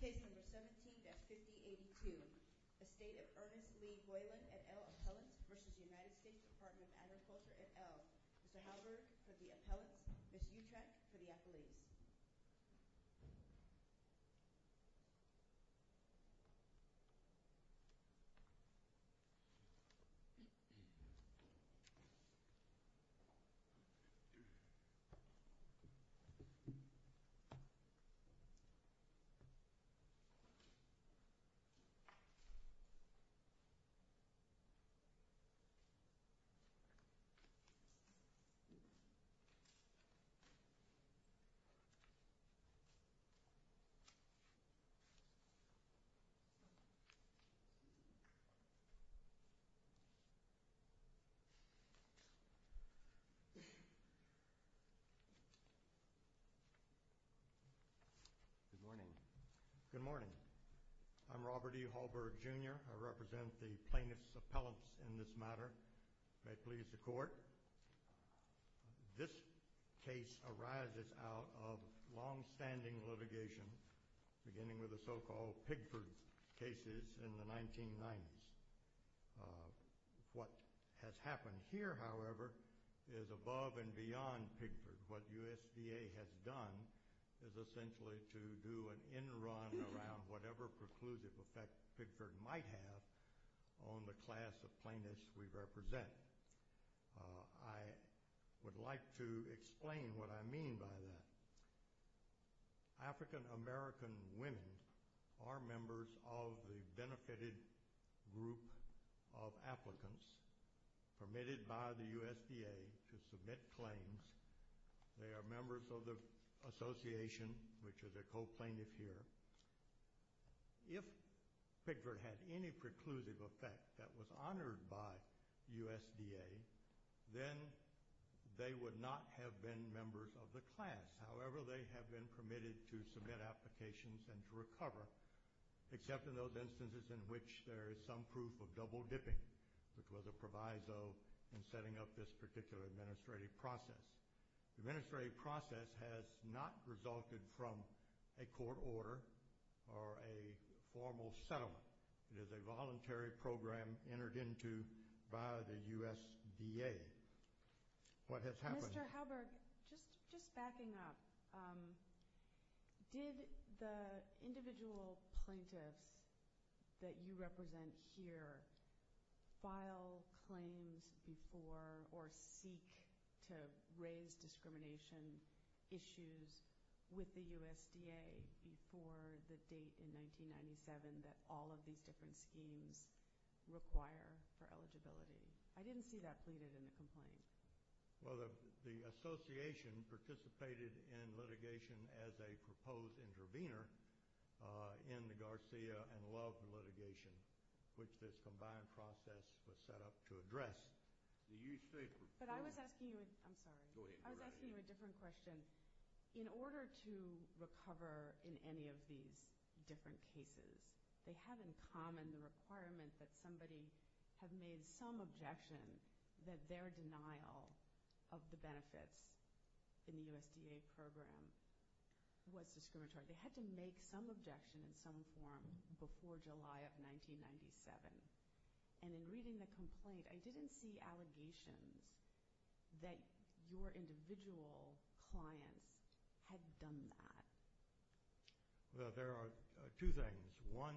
Case No. 17-5082, Estate of Earnest Lee Boyland et al. Appellants v. United States Department of Agriculture et al. Mr. Halberg for the Appellants, Ms. Utrecht for the Appellees. Ms. Utrecht for the Appellants. Good morning. Good morning. I'm Robert E. Halberg, Jr. I represent the plaintiffs' appellants in this matter. May it please the Court. This case arises out of longstanding litigation beginning with the so-called Pigford cases in the 1990s. What has happened here, however, is above and beyond Pigford. What USDA has done is essentially to do an in-run around whatever preclusive effect Pigford might have on the class of plaintiffs we represent. I would like to explain what I mean by that. African American women are members of the benefited group of applicants permitted by the USDA to submit claims. They are members of the association, which is a co-plaintiff here. If Pigford had any preclusive effect that was honored by USDA, then they would not have been members of the class. However, they have been permitted to submit applications and to recover, except in those instances in which there is some proof of double-dipping, which was a proviso in setting up this particular administrative process. The administrative process has not resulted from a court order or a formal settlement. It is a voluntary program entered into by the USDA. Mr. Halberg, just backing up, did the individual plaintiffs that you represent here file claims before or seek to raise discrimination issues with the USDA before the date in 1997 that all of these different schemes require for eligibility? I didn't see that pleaded in the complaint. Well, the association participated in litigation as a proposed intervener in the Garcia and Love litigation, which this combined process was set up to address. But I was asking you a different question. In order to recover in any of these different cases, they have in common the requirement that somebody have made some objection that their denial of the benefits in the USDA program was discriminatory. They had to make some objection in some form before July of 1997. And in reading the complaint, I didn't see allegations that your individual clients had done that. Well, there are two things. One,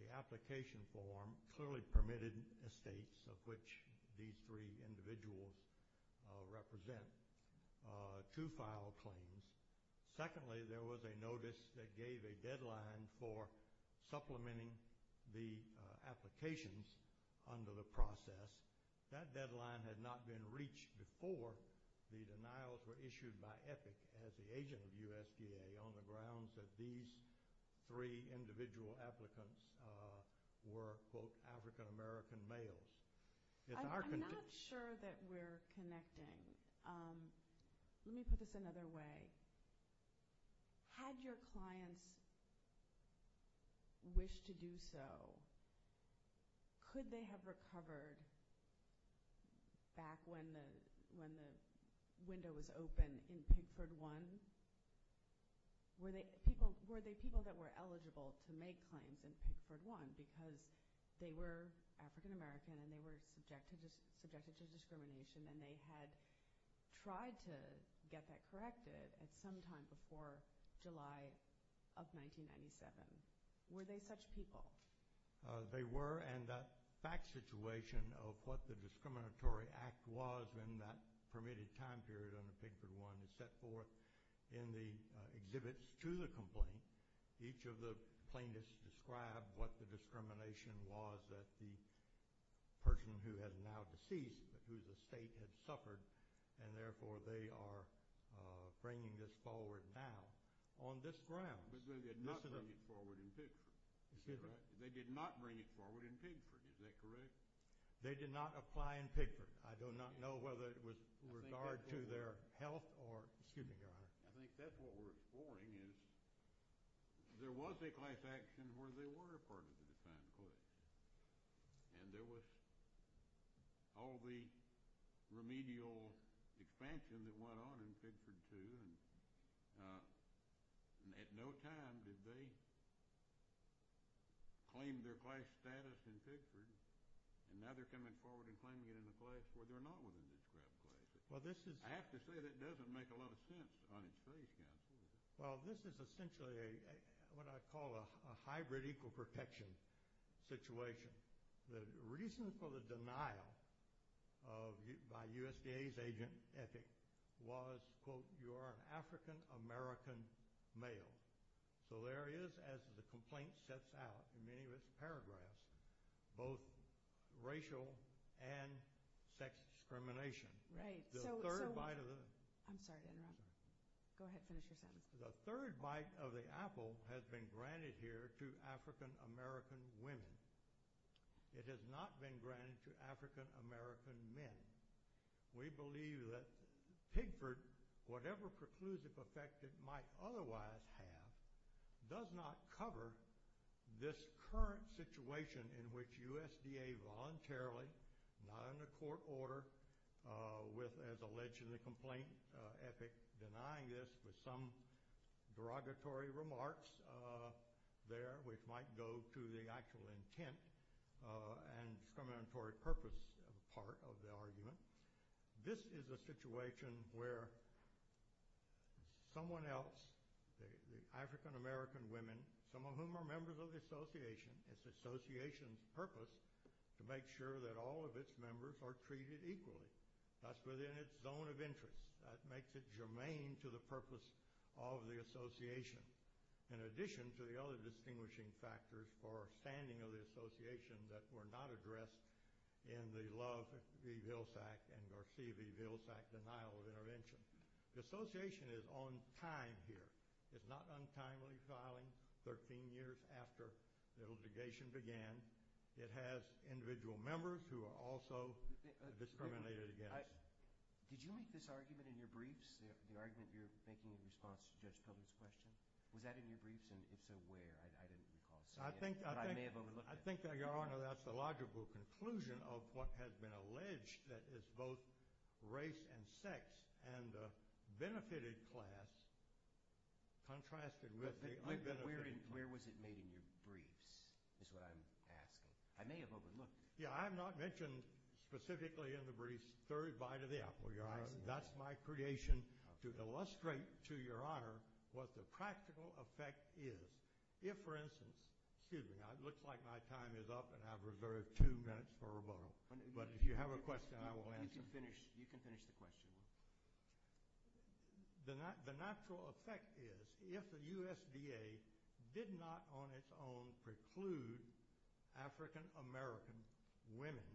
the application form clearly permitted estates of which these three individuals represent to file claims. Secondly, there was a notice that gave a deadline for supplementing the applications under the process. That deadline had not been reached before the denials were issued by EPIC as the agent of USDA on the grounds that these three individual applicants were, quote, African American males. I'm not sure that we're connecting. Let me put this another way. Had your clients wished to do so, could they have recovered back when the window was open in Pickford 1? Were they people that were eligible to make claims in Pickford 1 because they were African American and they were subjected to discrimination and they had tried to get that corrected at some time before July of 1997? Were they such people? They were, and the fact situation of what the discriminatory act was in that permitted time period under Pickford 1 is set forth in the exhibits to the complaint. Each of the plaintiffs described what the discrimination was that the person who is now deceased but whose estate had suffered and, therefore, they are bringing this forward now on this grounds. But they did not bring it forward in Pickford. They did not bring it forward in Pickford. Is that correct? They did not apply in Pickford. I do not know whether it was with regard to their health or, excuse me, Your Honor. I think that's what we're exploring is there was a class action where they were a part of the defined class and there was all the remedial expansion that went on in Pickford 2. And at no time did they claim their class status in Pickford. And now they're coming forward and claiming it in a class where they're not within the described class. I have to say that doesn't make a lot of sense on its face, counsel. Well, this is essentially what I call a hybrid equal protection situation. The reason for the denial by USDA's agent, Epic, was, quote, you are an African-American male. So there is, as the complaint sets out in many of its paragraphs, both racial and sex discrimination. Right. I'm sorry to interrupt. Go ahead. Finish your sentence. The third bite of the apple has been granted here to African-American women. It has not been granted to African-American men. We believe that Pickford, whatever preclusive effect it might otherwise have, does not cover this current situation in which USDA voluntarily, not under court order, with, as alleged in the complaint, Epic denying this with some derogatory remarks there, which might go to the actual intent and discriminatory purpose part of the argument. This is a situation where someone else, the African-American women, some of whom are members of the association, it's the association's purpose to make sure that all of its members are treated equally. That's within its zone of interest. That makes it germane to the purpose of the association. In addition to the other distinguishing factors for standing of the association that were not addressed in the Love v. Vilsack and Garcia v. Vilsack denial of intervention, the association is on time here. It's not untimely filing 13 years after the litigation began. It has individual members who are also discriminated against. Did you make this argument in your briefs, the argument you're making in response to Judge Pilgrim's question? Was that in your briefs, and if so, where? I think, Your Honor, that's the logical conclusion of what has been alleged, that it's both race and sex and the benefited class contrasted with the unbenefited class. Where was it made in your briefs is what I'm asking. I may have overlooked it. Yeah, I have not mentioned specifically in the briefs the third bite of the apple, Your Honor. That's my creation to illustrate to Your Honor what the practical effect is. If, for instance, excuse me. It looks like my time is up, and I've reserved two minutes for rebuttal. But if you have a question, I will answer it. You can finish the question. The natural effect is if the USDA did not on its own preclude African American women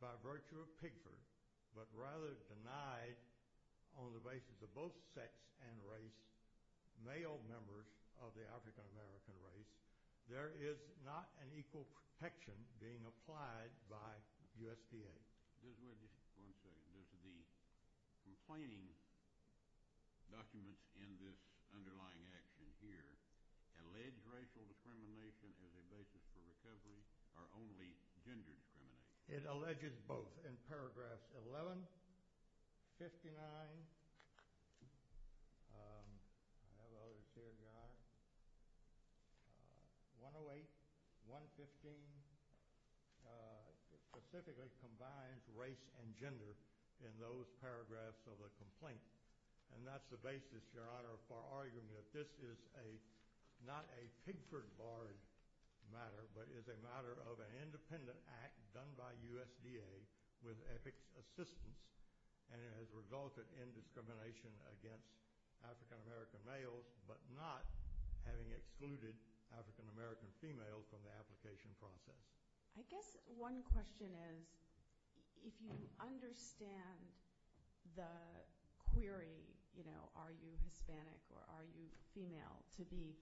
by virtue of Pigford but rather denied on the basis of both sex and race male members of the African American race, there is not an equal protection being applied by USDA. Just wait just one second. Does the complaining documents in this underlying action here allege racial discrimination as a basis for recovery or only gender discrimination? It alleges both in paragraphs 11, 59. I have others here, Your Honor. 108, 115 specifically combines race and gender in those paragraphs of the complaint. And that's the basis, Your Honor, for arguing that this is not a Pigford-Bard matter but is a matter of an independent act done by USDA with ethics assistance. And it has resulted in discrimination against African American males but not having excluded African American females from the application process. I guess one question is if you understand the query, you know, are you Hispanic or are you female, to the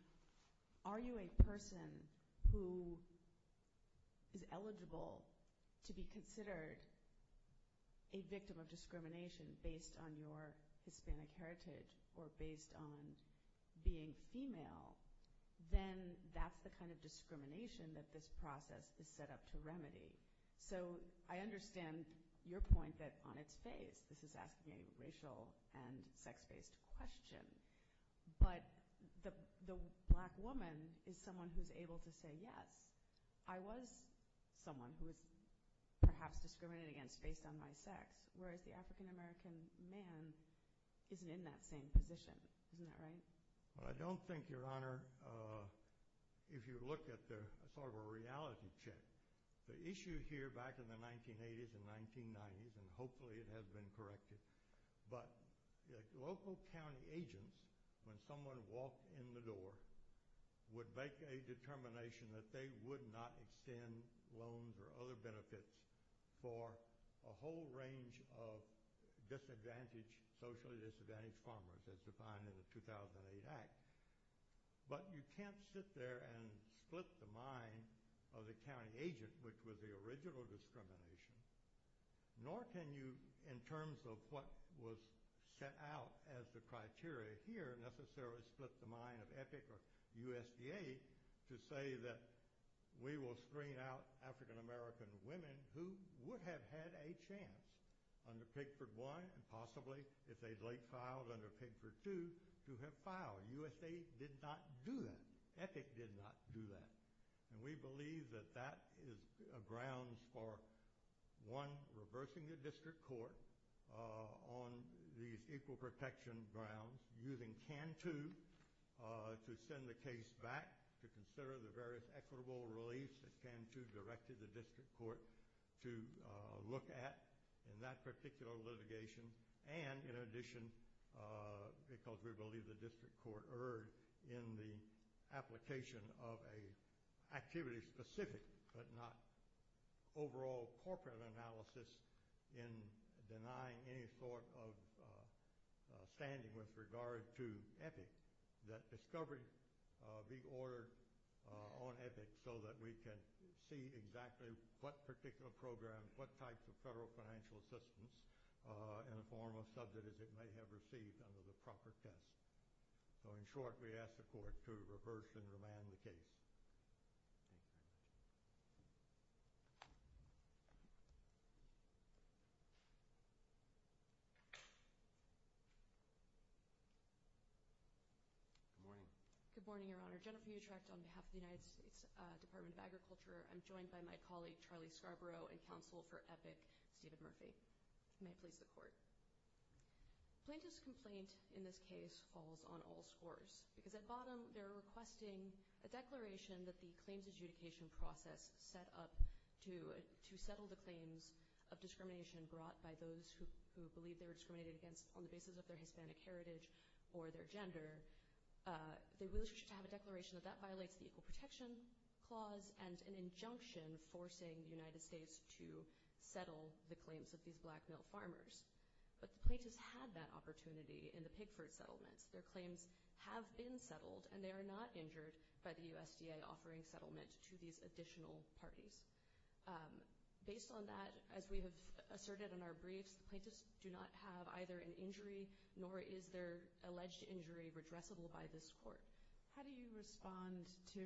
are you a person who is eligible to be considered a victim of discrimination based on your Hispanic heritage or based on being female, then that's the kind of discrimination that this process is set up to remedy. So I understand your point that on its face this is asking a racial and sex-based question. But the black woman is someone who is able to say, yes, I was someone who was perhaps discriminated against based on my sex, whereas the African American man isn't in that same position. Isn't that right? Well, I don't think, Your Honor, if you look at sort of a reality check, the issue here back in the 1980s and 1990s, and hopefully it has been corrected, but local county agents, when someone walked in the door, would make a determination that they would not extend loans or other benefits for a whole range of disadvantaged, socially disadvantaged farmers, as defined in the 2008 Act. But you can't sit there and split the mind of the county agent, which was the original discrimination, nor can you, in terms of what was set out as the criteria here, necessarily split the mind of EPIC or USDA to say that we will screen out African American women who would have had a chance under Pigford I and possibly, if they'd late filed under Pigford II, to have filed. USDA did not do that. EPIC did not do that. And we believe that that is grounds for, one, reversing the district court on these equal protection grounds, using CAN II to send the case back to consider the various equitable reliefs that CAN II directed the district court to look at in that particular litigation, and, in addition, because we believe the district court erred in the application of an activity-specific but not overall corporate analysis in denying any sort of standing with regard to EPIC, that discovery be ordered on EPIC so that we can see exactly what particular program, what types of federal financial assistance in the form of subsidies it may have received under the proper test. So, in short, we ask the Court to reverse and remand the case. Thank you very much. Good morning. Good morning, Your Honor. Jennifer Utrecht on behalf of the United States Department of Agriculture. I'm joined by my colleague, Charlie Scarborough, and counsel for EPIC, Stephen Murphy. May it please the Court. Plaintiff's complaint in this case falls on all scores, because at bottom they're requesting a declaration that the claims adjudication process set up to settle the claims of discrimination brought by those who believe they were discriminated against on the basis of their Hispanic heritage or their gender. They wish to have a declaration that that violates the Equal Protection Clause and an injunction forcing the United States to settle the claims of these black male farmers. But the plaintiffs had that opportunity in the Pigford settlements. Their claims have been settled, and they are not injured by the USDA offering settlement to these additional parties. Based on that, as we have asserted in our briefs, the plaintiffs do not have either an injury, nor is their alleged injury redressable by this Court. How do you respond to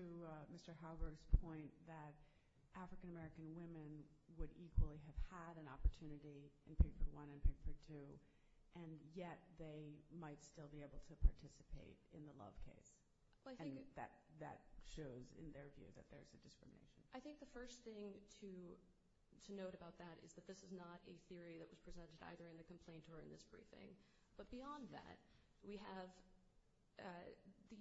Mr. Halberg's point that African American women would equally have had an opportunity in Pigford I and Pigford II, and yet they might still be able to participate in the Love case? And that shows, in their view, that there's a discrimination. I think the first thing to note about that is that this is not a theory that was presented either in the complaint or in this briefing. But beyond that, we have the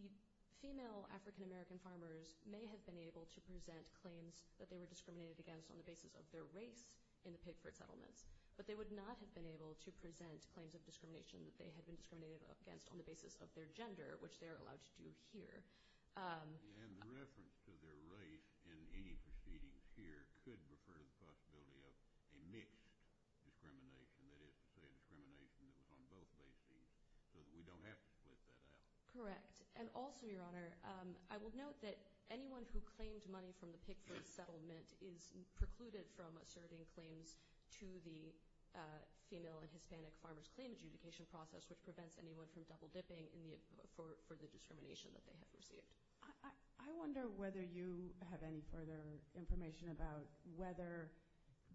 female African American farmers may have been able to present claims that they were discriminated against on the basis of their race in the Pigford settlements, but they would not have been able to present claims of discrimination that they had been discriminated against on the basis of their gender, which they are allowed to do here. And the reference to their race in any proceedings here could refer to the possibility of a mixed discrimination, that is to say a discrimination that was on both bases, so that we don't have to split that out. Correct. And also, Your Honor, I will note that anyone who claimed money from the Pigford settlement is precluded from asserting claims to the female and Hispanic farmers' claim adjudication process, which prevents anyone from double-dipping for the discrimination that they have received. I wonder whether you have any further information about whether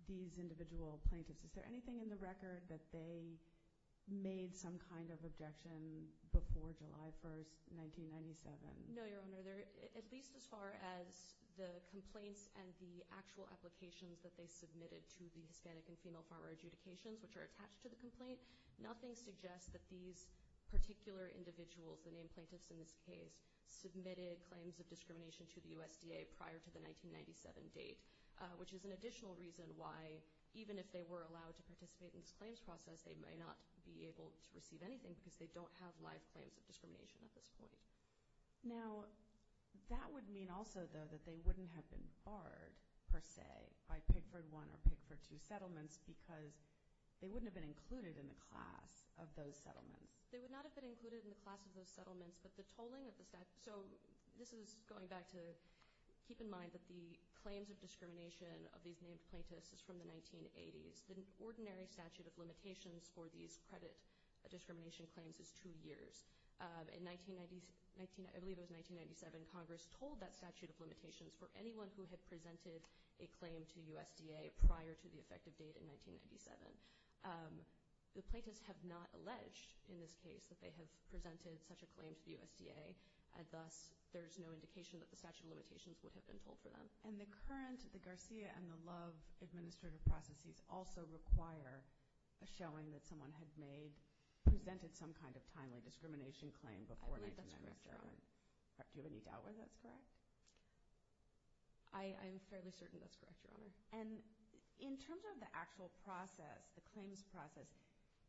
these individual plaintiffs – is there anything in the record that they made some kind of objection before July 1, 1997? No, Your Honor. At least as far as the complaints and the actual applications that they submitted to the Hispanic and female farmer adjudications, which are attached to the complaint, nothing suggests that these particular individuals, the named plaintiffs in this case, submitted claims of discrimination to the USDA prior to the 1997 date, which is an additional reason why, even if they were allowed to participate in this claims process, they may not be able to receive anything because they don't have live claims of discrimination at this point. Now, that would mean also, though, that they wouldn't have been barred, per se, by Pigford I or Pigford II settlements because they wouldn't have been included in the class of those settlements. They would not have been included in the class of those settlements, but the tolling of the – So this is going back to keep in mind that the claims of discrimination of these named plaintiffs is from the 1980s. The ordinary statute of limitations for these credit discrimination claims is two years. In – I believe it was 1997, Congress told that statute of limitations for anyone who had presented a claim to USDA prior to the effective date in 1997. The plaintiffs have not alleged in this case that they have presented such a claim to the USDA, and thus there's no indication that the statute of limitations would have been told for them. And the current – the Garcia and the Love administrative processes also require a showing that someone had made – presented some kind of timely discrimination claim before 1997. I believe that's correct, Your Honor. Do you have any doubt whether that's correct? I am fairly certain that's correct, Your Honor. And in terms of the actual process, the claims process,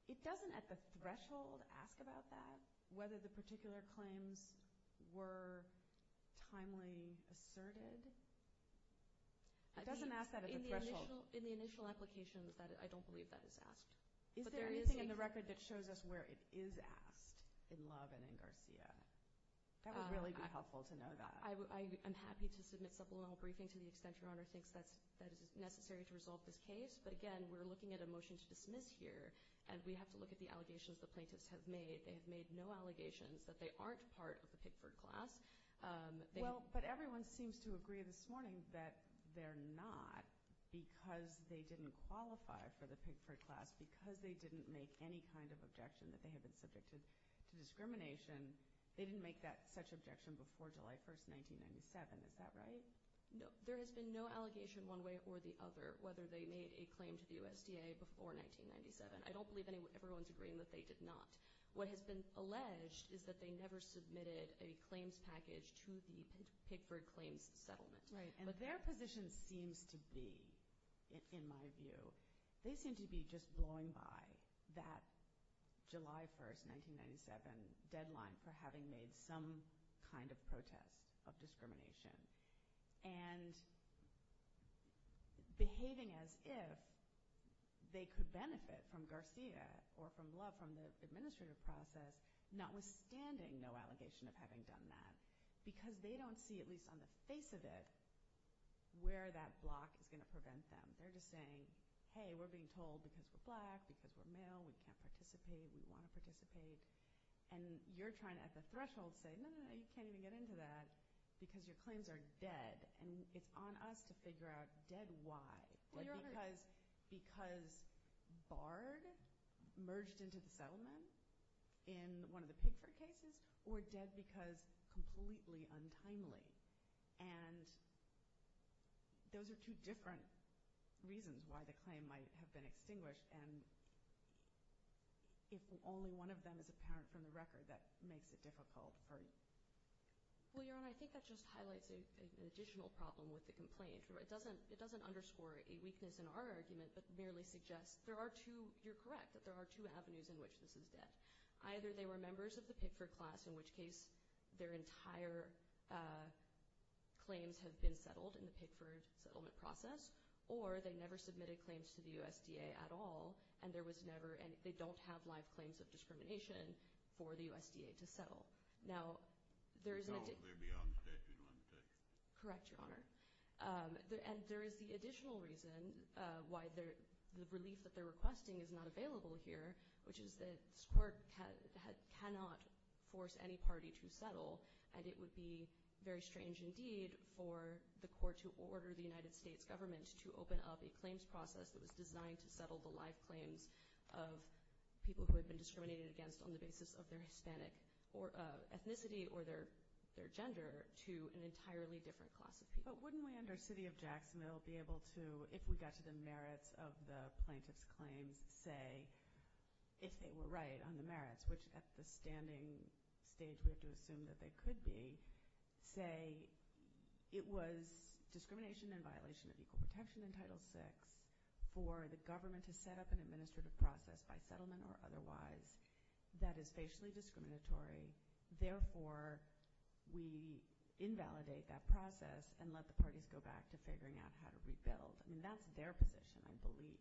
it doesn't at the threshold ask about that, whether the particular claims were timely asserted? It doesn't ask that at the threshold. In the initial applications, I don't believe that is asked. Is there anything in the record that shows us where it is asked in Love and in Garcia? That would really be helpful to know that. I'm happy to submit supplemental briefing to the extent Your Honor thinks that is necessary to resolve this case. But, again, we're looking at a motion to dismiss here, and we have to look at the allegations the plaintiffs have made. They have made no allegations that they aren't part of the Pickford class. Well, but everyone seems to agree this morning that they're not, because they didn't qualify for the Pickford class, because they didn't make any kind of objection that they had been subjected to discrimination. They didn't make that such objection before July 1, 1997. Is that right? No. There has been no allegation one way or the other, whether they made a claim to the USDA before 1997. I don't believe everyone's agreeing that they did not. What has been alleged is that they never submitted a claims package to the Pickford claims settlement. Right. But their position seems to be, in my view, they seem to be just blowing by that July 1, 1997, deadline for having made some kind of protest of discrimination and behaving as if they could benefit from Garcia or from Love from the administrative process, notwithstanding no allegation of having done that, because they don't see, at least on the face of it, where that block is going to prevent them. They're just saying, hey, we're being told because we're black, because we're male, we can't participate, we want to participate. And you're trying at the threshold to say, no, no, no, you can't even get into that, because your claims are dead. And it's on us to figure out dead why. Because Bard merged into the settlement in one of the Pickford cases, or dead because completely untimely. And those are two different reasons why the claim might have been extinguished. And if only one of them is apparent from the record, that makes it difficult for you. Well, Your Honor, I think that just highlights an additional problem with the complaint. It doesn't underscore a weakness in our argument, but merely suggests there are two – you're correct that there are two avenues in which this is dead. Either they were members of the Pickford class, in which case their entire claims have been settled in the Pickford settlement process, or they never submitted claims to the USDA at all, and there was never any – they don't have live claims of discrimination for the USDA to settle. Now, there is an – No, they're beyond the statute of limitations. Correct, Your Honor. And there is the additional reason why the relief that they're requesting is not available here, which is that this court cannot force any party to settle, and it would be very strange indeed for the court to order the United States government to open up a claims process that was designed to settle the live claims of people who had been discriminated against on the basis of their Hispanic ethnicity or their gender to an entirely different class of people. But wouldn't we, under city of Jacksonville, be able to, if we got to the merits of the plaintiff's claims, say, if they were right on the merits, which at the standing stage we have to assume that they could be, say it was discrimination in violation of equal protection in Title VI for the government to set up an administrative process by settlement or otherwise that is facially discriminatory, therefore we invalidate that process and let the parties go back to figuring out how to rebuild. I mean, that's their position, I believe.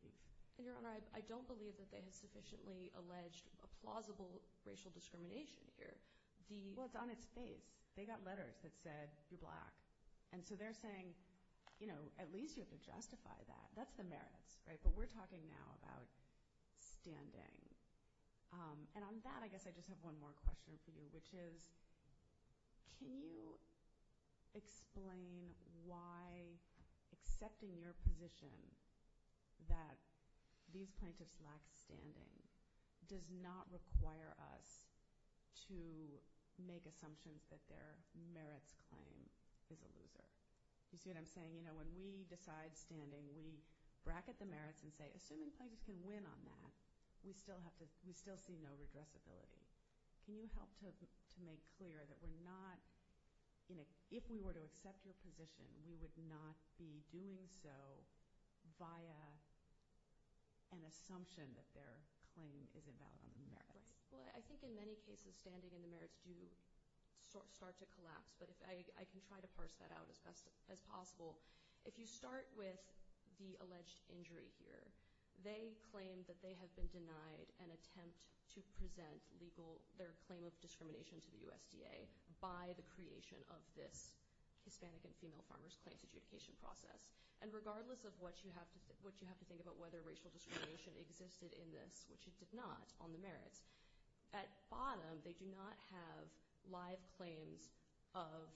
And, Your Honor, I don't believe that they have sufficiently alleged a plausible racial discrimination here. Well, it's on its face. They got letters that said you're black. And so they're saying, you know, at least you have to justify that. That's the merits, right? But we're talking now about standing. And on that, I guess I just have one more question for you, which is can you explain why accepting your position that these plaintiffs lack standing does not require us to make assumptions that their merits claim is a loser? You see what I'm saying? You know, when we decide standing, we bracket the merits and say, we still see no redressability. Can you help to make clear that we're not, you know, if we were to accept your position, we would not be doing so via an assumption that their claim is invalid on the merits? Right. Well, I think in many cases standing and the merits do start to collapse. But I can try to parse that out as best as possible. If you start with the alleged injury here, they claim that they have been denied an attempt to present their claim of discrimination to the USDA by the creation of this Hispanic and female farmers claims adjudication process. And regardless of what you have to think about whether racial discrimination existed in this, which it did not on the merits, at bottom they do not have live claims of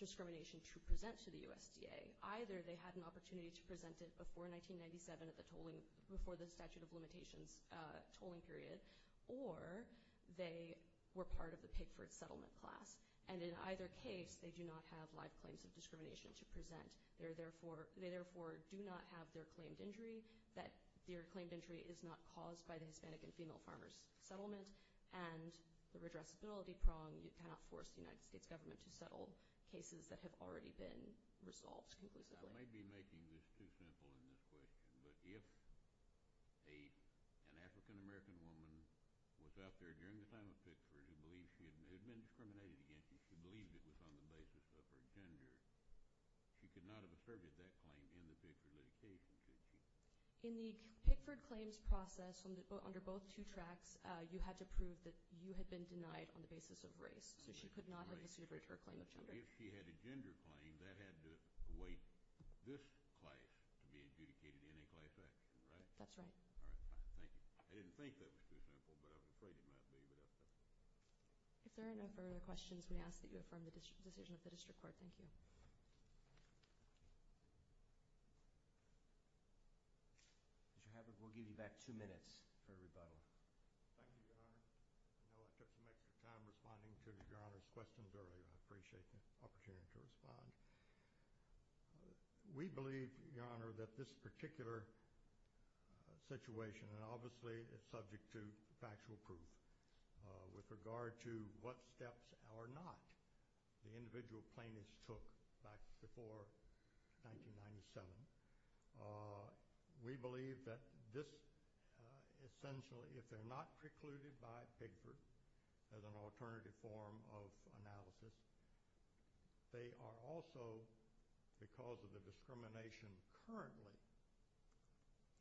discrimination to present to the USDA. Either they had an opportunity to present it before 1997 at the tolling, before the statute of limitations tolling period, or they were part of the Pigford settlement class. And in either case, they do not have live claims of discrimination to present. They therefore do not have their claimed injury, that their claimed injury is not caused by the Hispanic and female farmers settlement, and the redressability prong cannot force the United States government to settle cases that have already been resolved conclusively. I may be making this too simple in this question, but if an African-American woman was out there during the time of Pigford who believed she had been discriminated against and she believed it was on the basis of her gender, she could not have asserted that claim in the Pigford litigation, could she? In the Pigford claims process, under both two tracks, you had to prove that you had been denied on the basis of race, so she could not have asserted her claim of gender. If she had a gender claim, that had to await this class to be adjudicated in a class action, right? That's right. All right, fine. Thank you. I didn't think that was too simple, but I was afraid it might be. If there are no further questions, we ask that you affirm the decision of the district court. Thank you. Mr. Haberg, we'll give you back two minutes for a rebuttal. Thank you, Your Honor. I know I took some extra time responding to Your Honor's questions earlier. I appreciate the opportunity to respond. We believe, Your Honor, that this particular situation, and obviously it's subject to factual proof, with regard to what steps or not the individual plaintiffs took back before 1997, we believe that this essentially, if they're not precluded by Pigford as an alternative form of analysis, they are also, because of the discrimination currently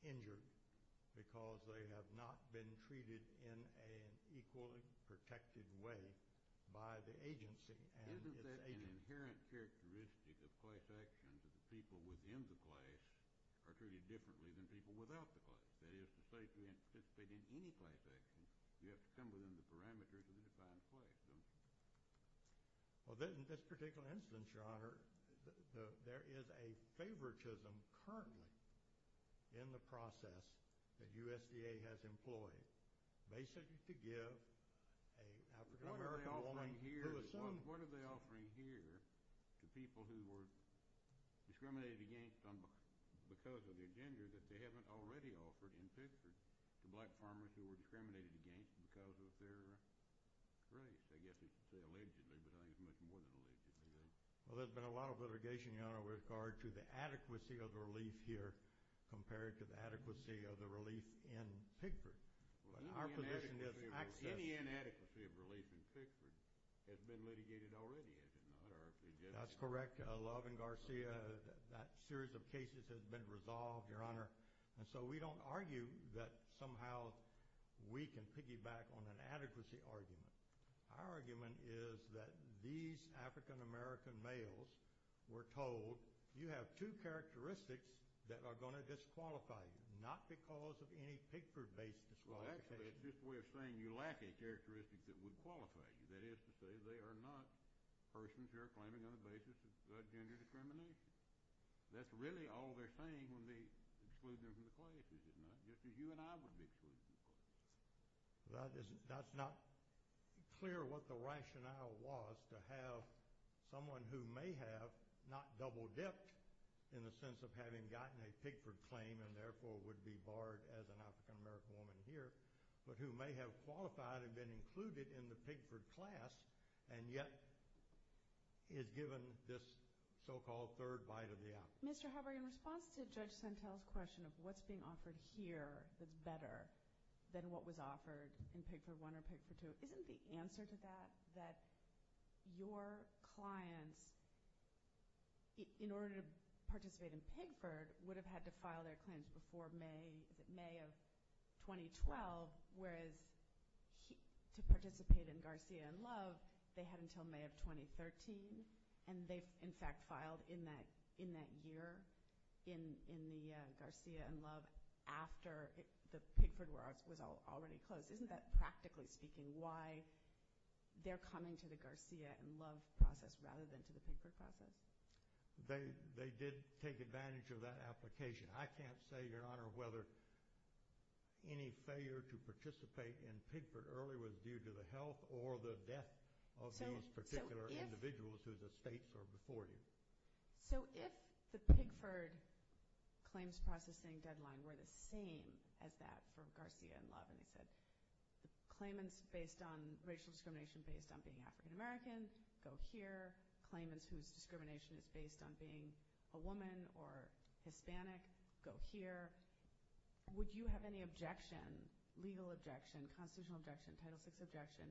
injured, because they have not been treated in an equally protected way by the agency and its agents. Isn't that an inherent characteristic of class actions, that the people within the class are treated differently than people without the class? That is, to say to anticipate in any class action, you have to come within the parameters of the defined class. Well, in this particular instance, Your Honor, there is a favoritism currently in the process that USDA has employed, basically to give an African-American woman who assumes. What are they offering here to people who were discriminated against because of their gender that they haven't already offered in Pigford to black farmers who were discriminated against because of their race? I guess you could say allegedly, but I think it's much more than allegedly. Well, there's been a lot of litigation, Your Honor, with regard to the adequacy of the relief here compared to the adequacy of the relief in Pigford. Well, any inadequacy of relief in Pigford has been litigated already, has it not? That's correct, Love and Garcia. That series of cases has been resolved, Your Honor. And so we don't argue that somehow we can piggyback on an adequacy argument. Our argument is that these African-American males were told, you have two characteristics that are going to disqualify you, not because of any Pigford-based disqualification. Well, actually, it's just a way of saying you lack a characteristic that would qualify you. That is to say they are not persons who are claiming on the basis of gender discrimination. That's really all they're saying when they exclude them from the classes, is it not? Just as you and I would be excluding people. That's not clear what the rationale was to have someone who may have not double-dipped in the sense of having gotten a Pigford claim and therefore would be barred as an African-American woman here, but who may have qualified and been included in the Pigford class and yet is given this so-called third bite of the apple. Mr. Hubbard, in response to Judge Sentel's question of what's being offered here that's better than what was offered in Pigford I or Pigford II, isn't the answer to that that your clients, in order to participate in Pigford, would have had to file their claims before May of 2012, whereas to participate in Garcia and Love, they had until May of 2013, and they, in fact, filed in that year in the Garcia and Love after the Pigford was already closed? Isn't that, practically speaking, why they're coming to the Garcia and Love process rather than to the Pigford process? They did take advantage of that application. I can't say, Your Honor, whether any failure to participate in Pigford early was due to the health or the death of those particular individuals whose estates are before you. So if the Pigford claims processing deadline were the same as that for Garcia and Love, and they said the claimants based on racial discrimination based on being African-American go here, claimants whose discrimination is based on being a woman or Hispanic go here, would you have any objection, legal objection, constitutional objection, Title VI objection,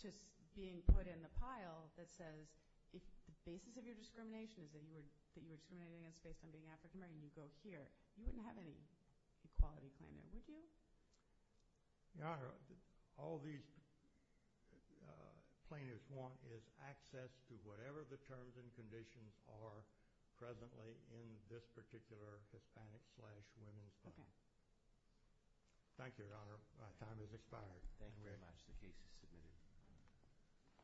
to being put in the pile that says if the basis of your discrimination is that you were discriminating against based on being African-American, you go here. You wouldn't have any equality claim there, would you? Your Honor, all these plaintiffs want is access to whatever the terms and conditions are presently in this particular Hispanic-slash-women's claim. Thank you, Your Honor. My time has expired. Thank you very much. The case is submitted.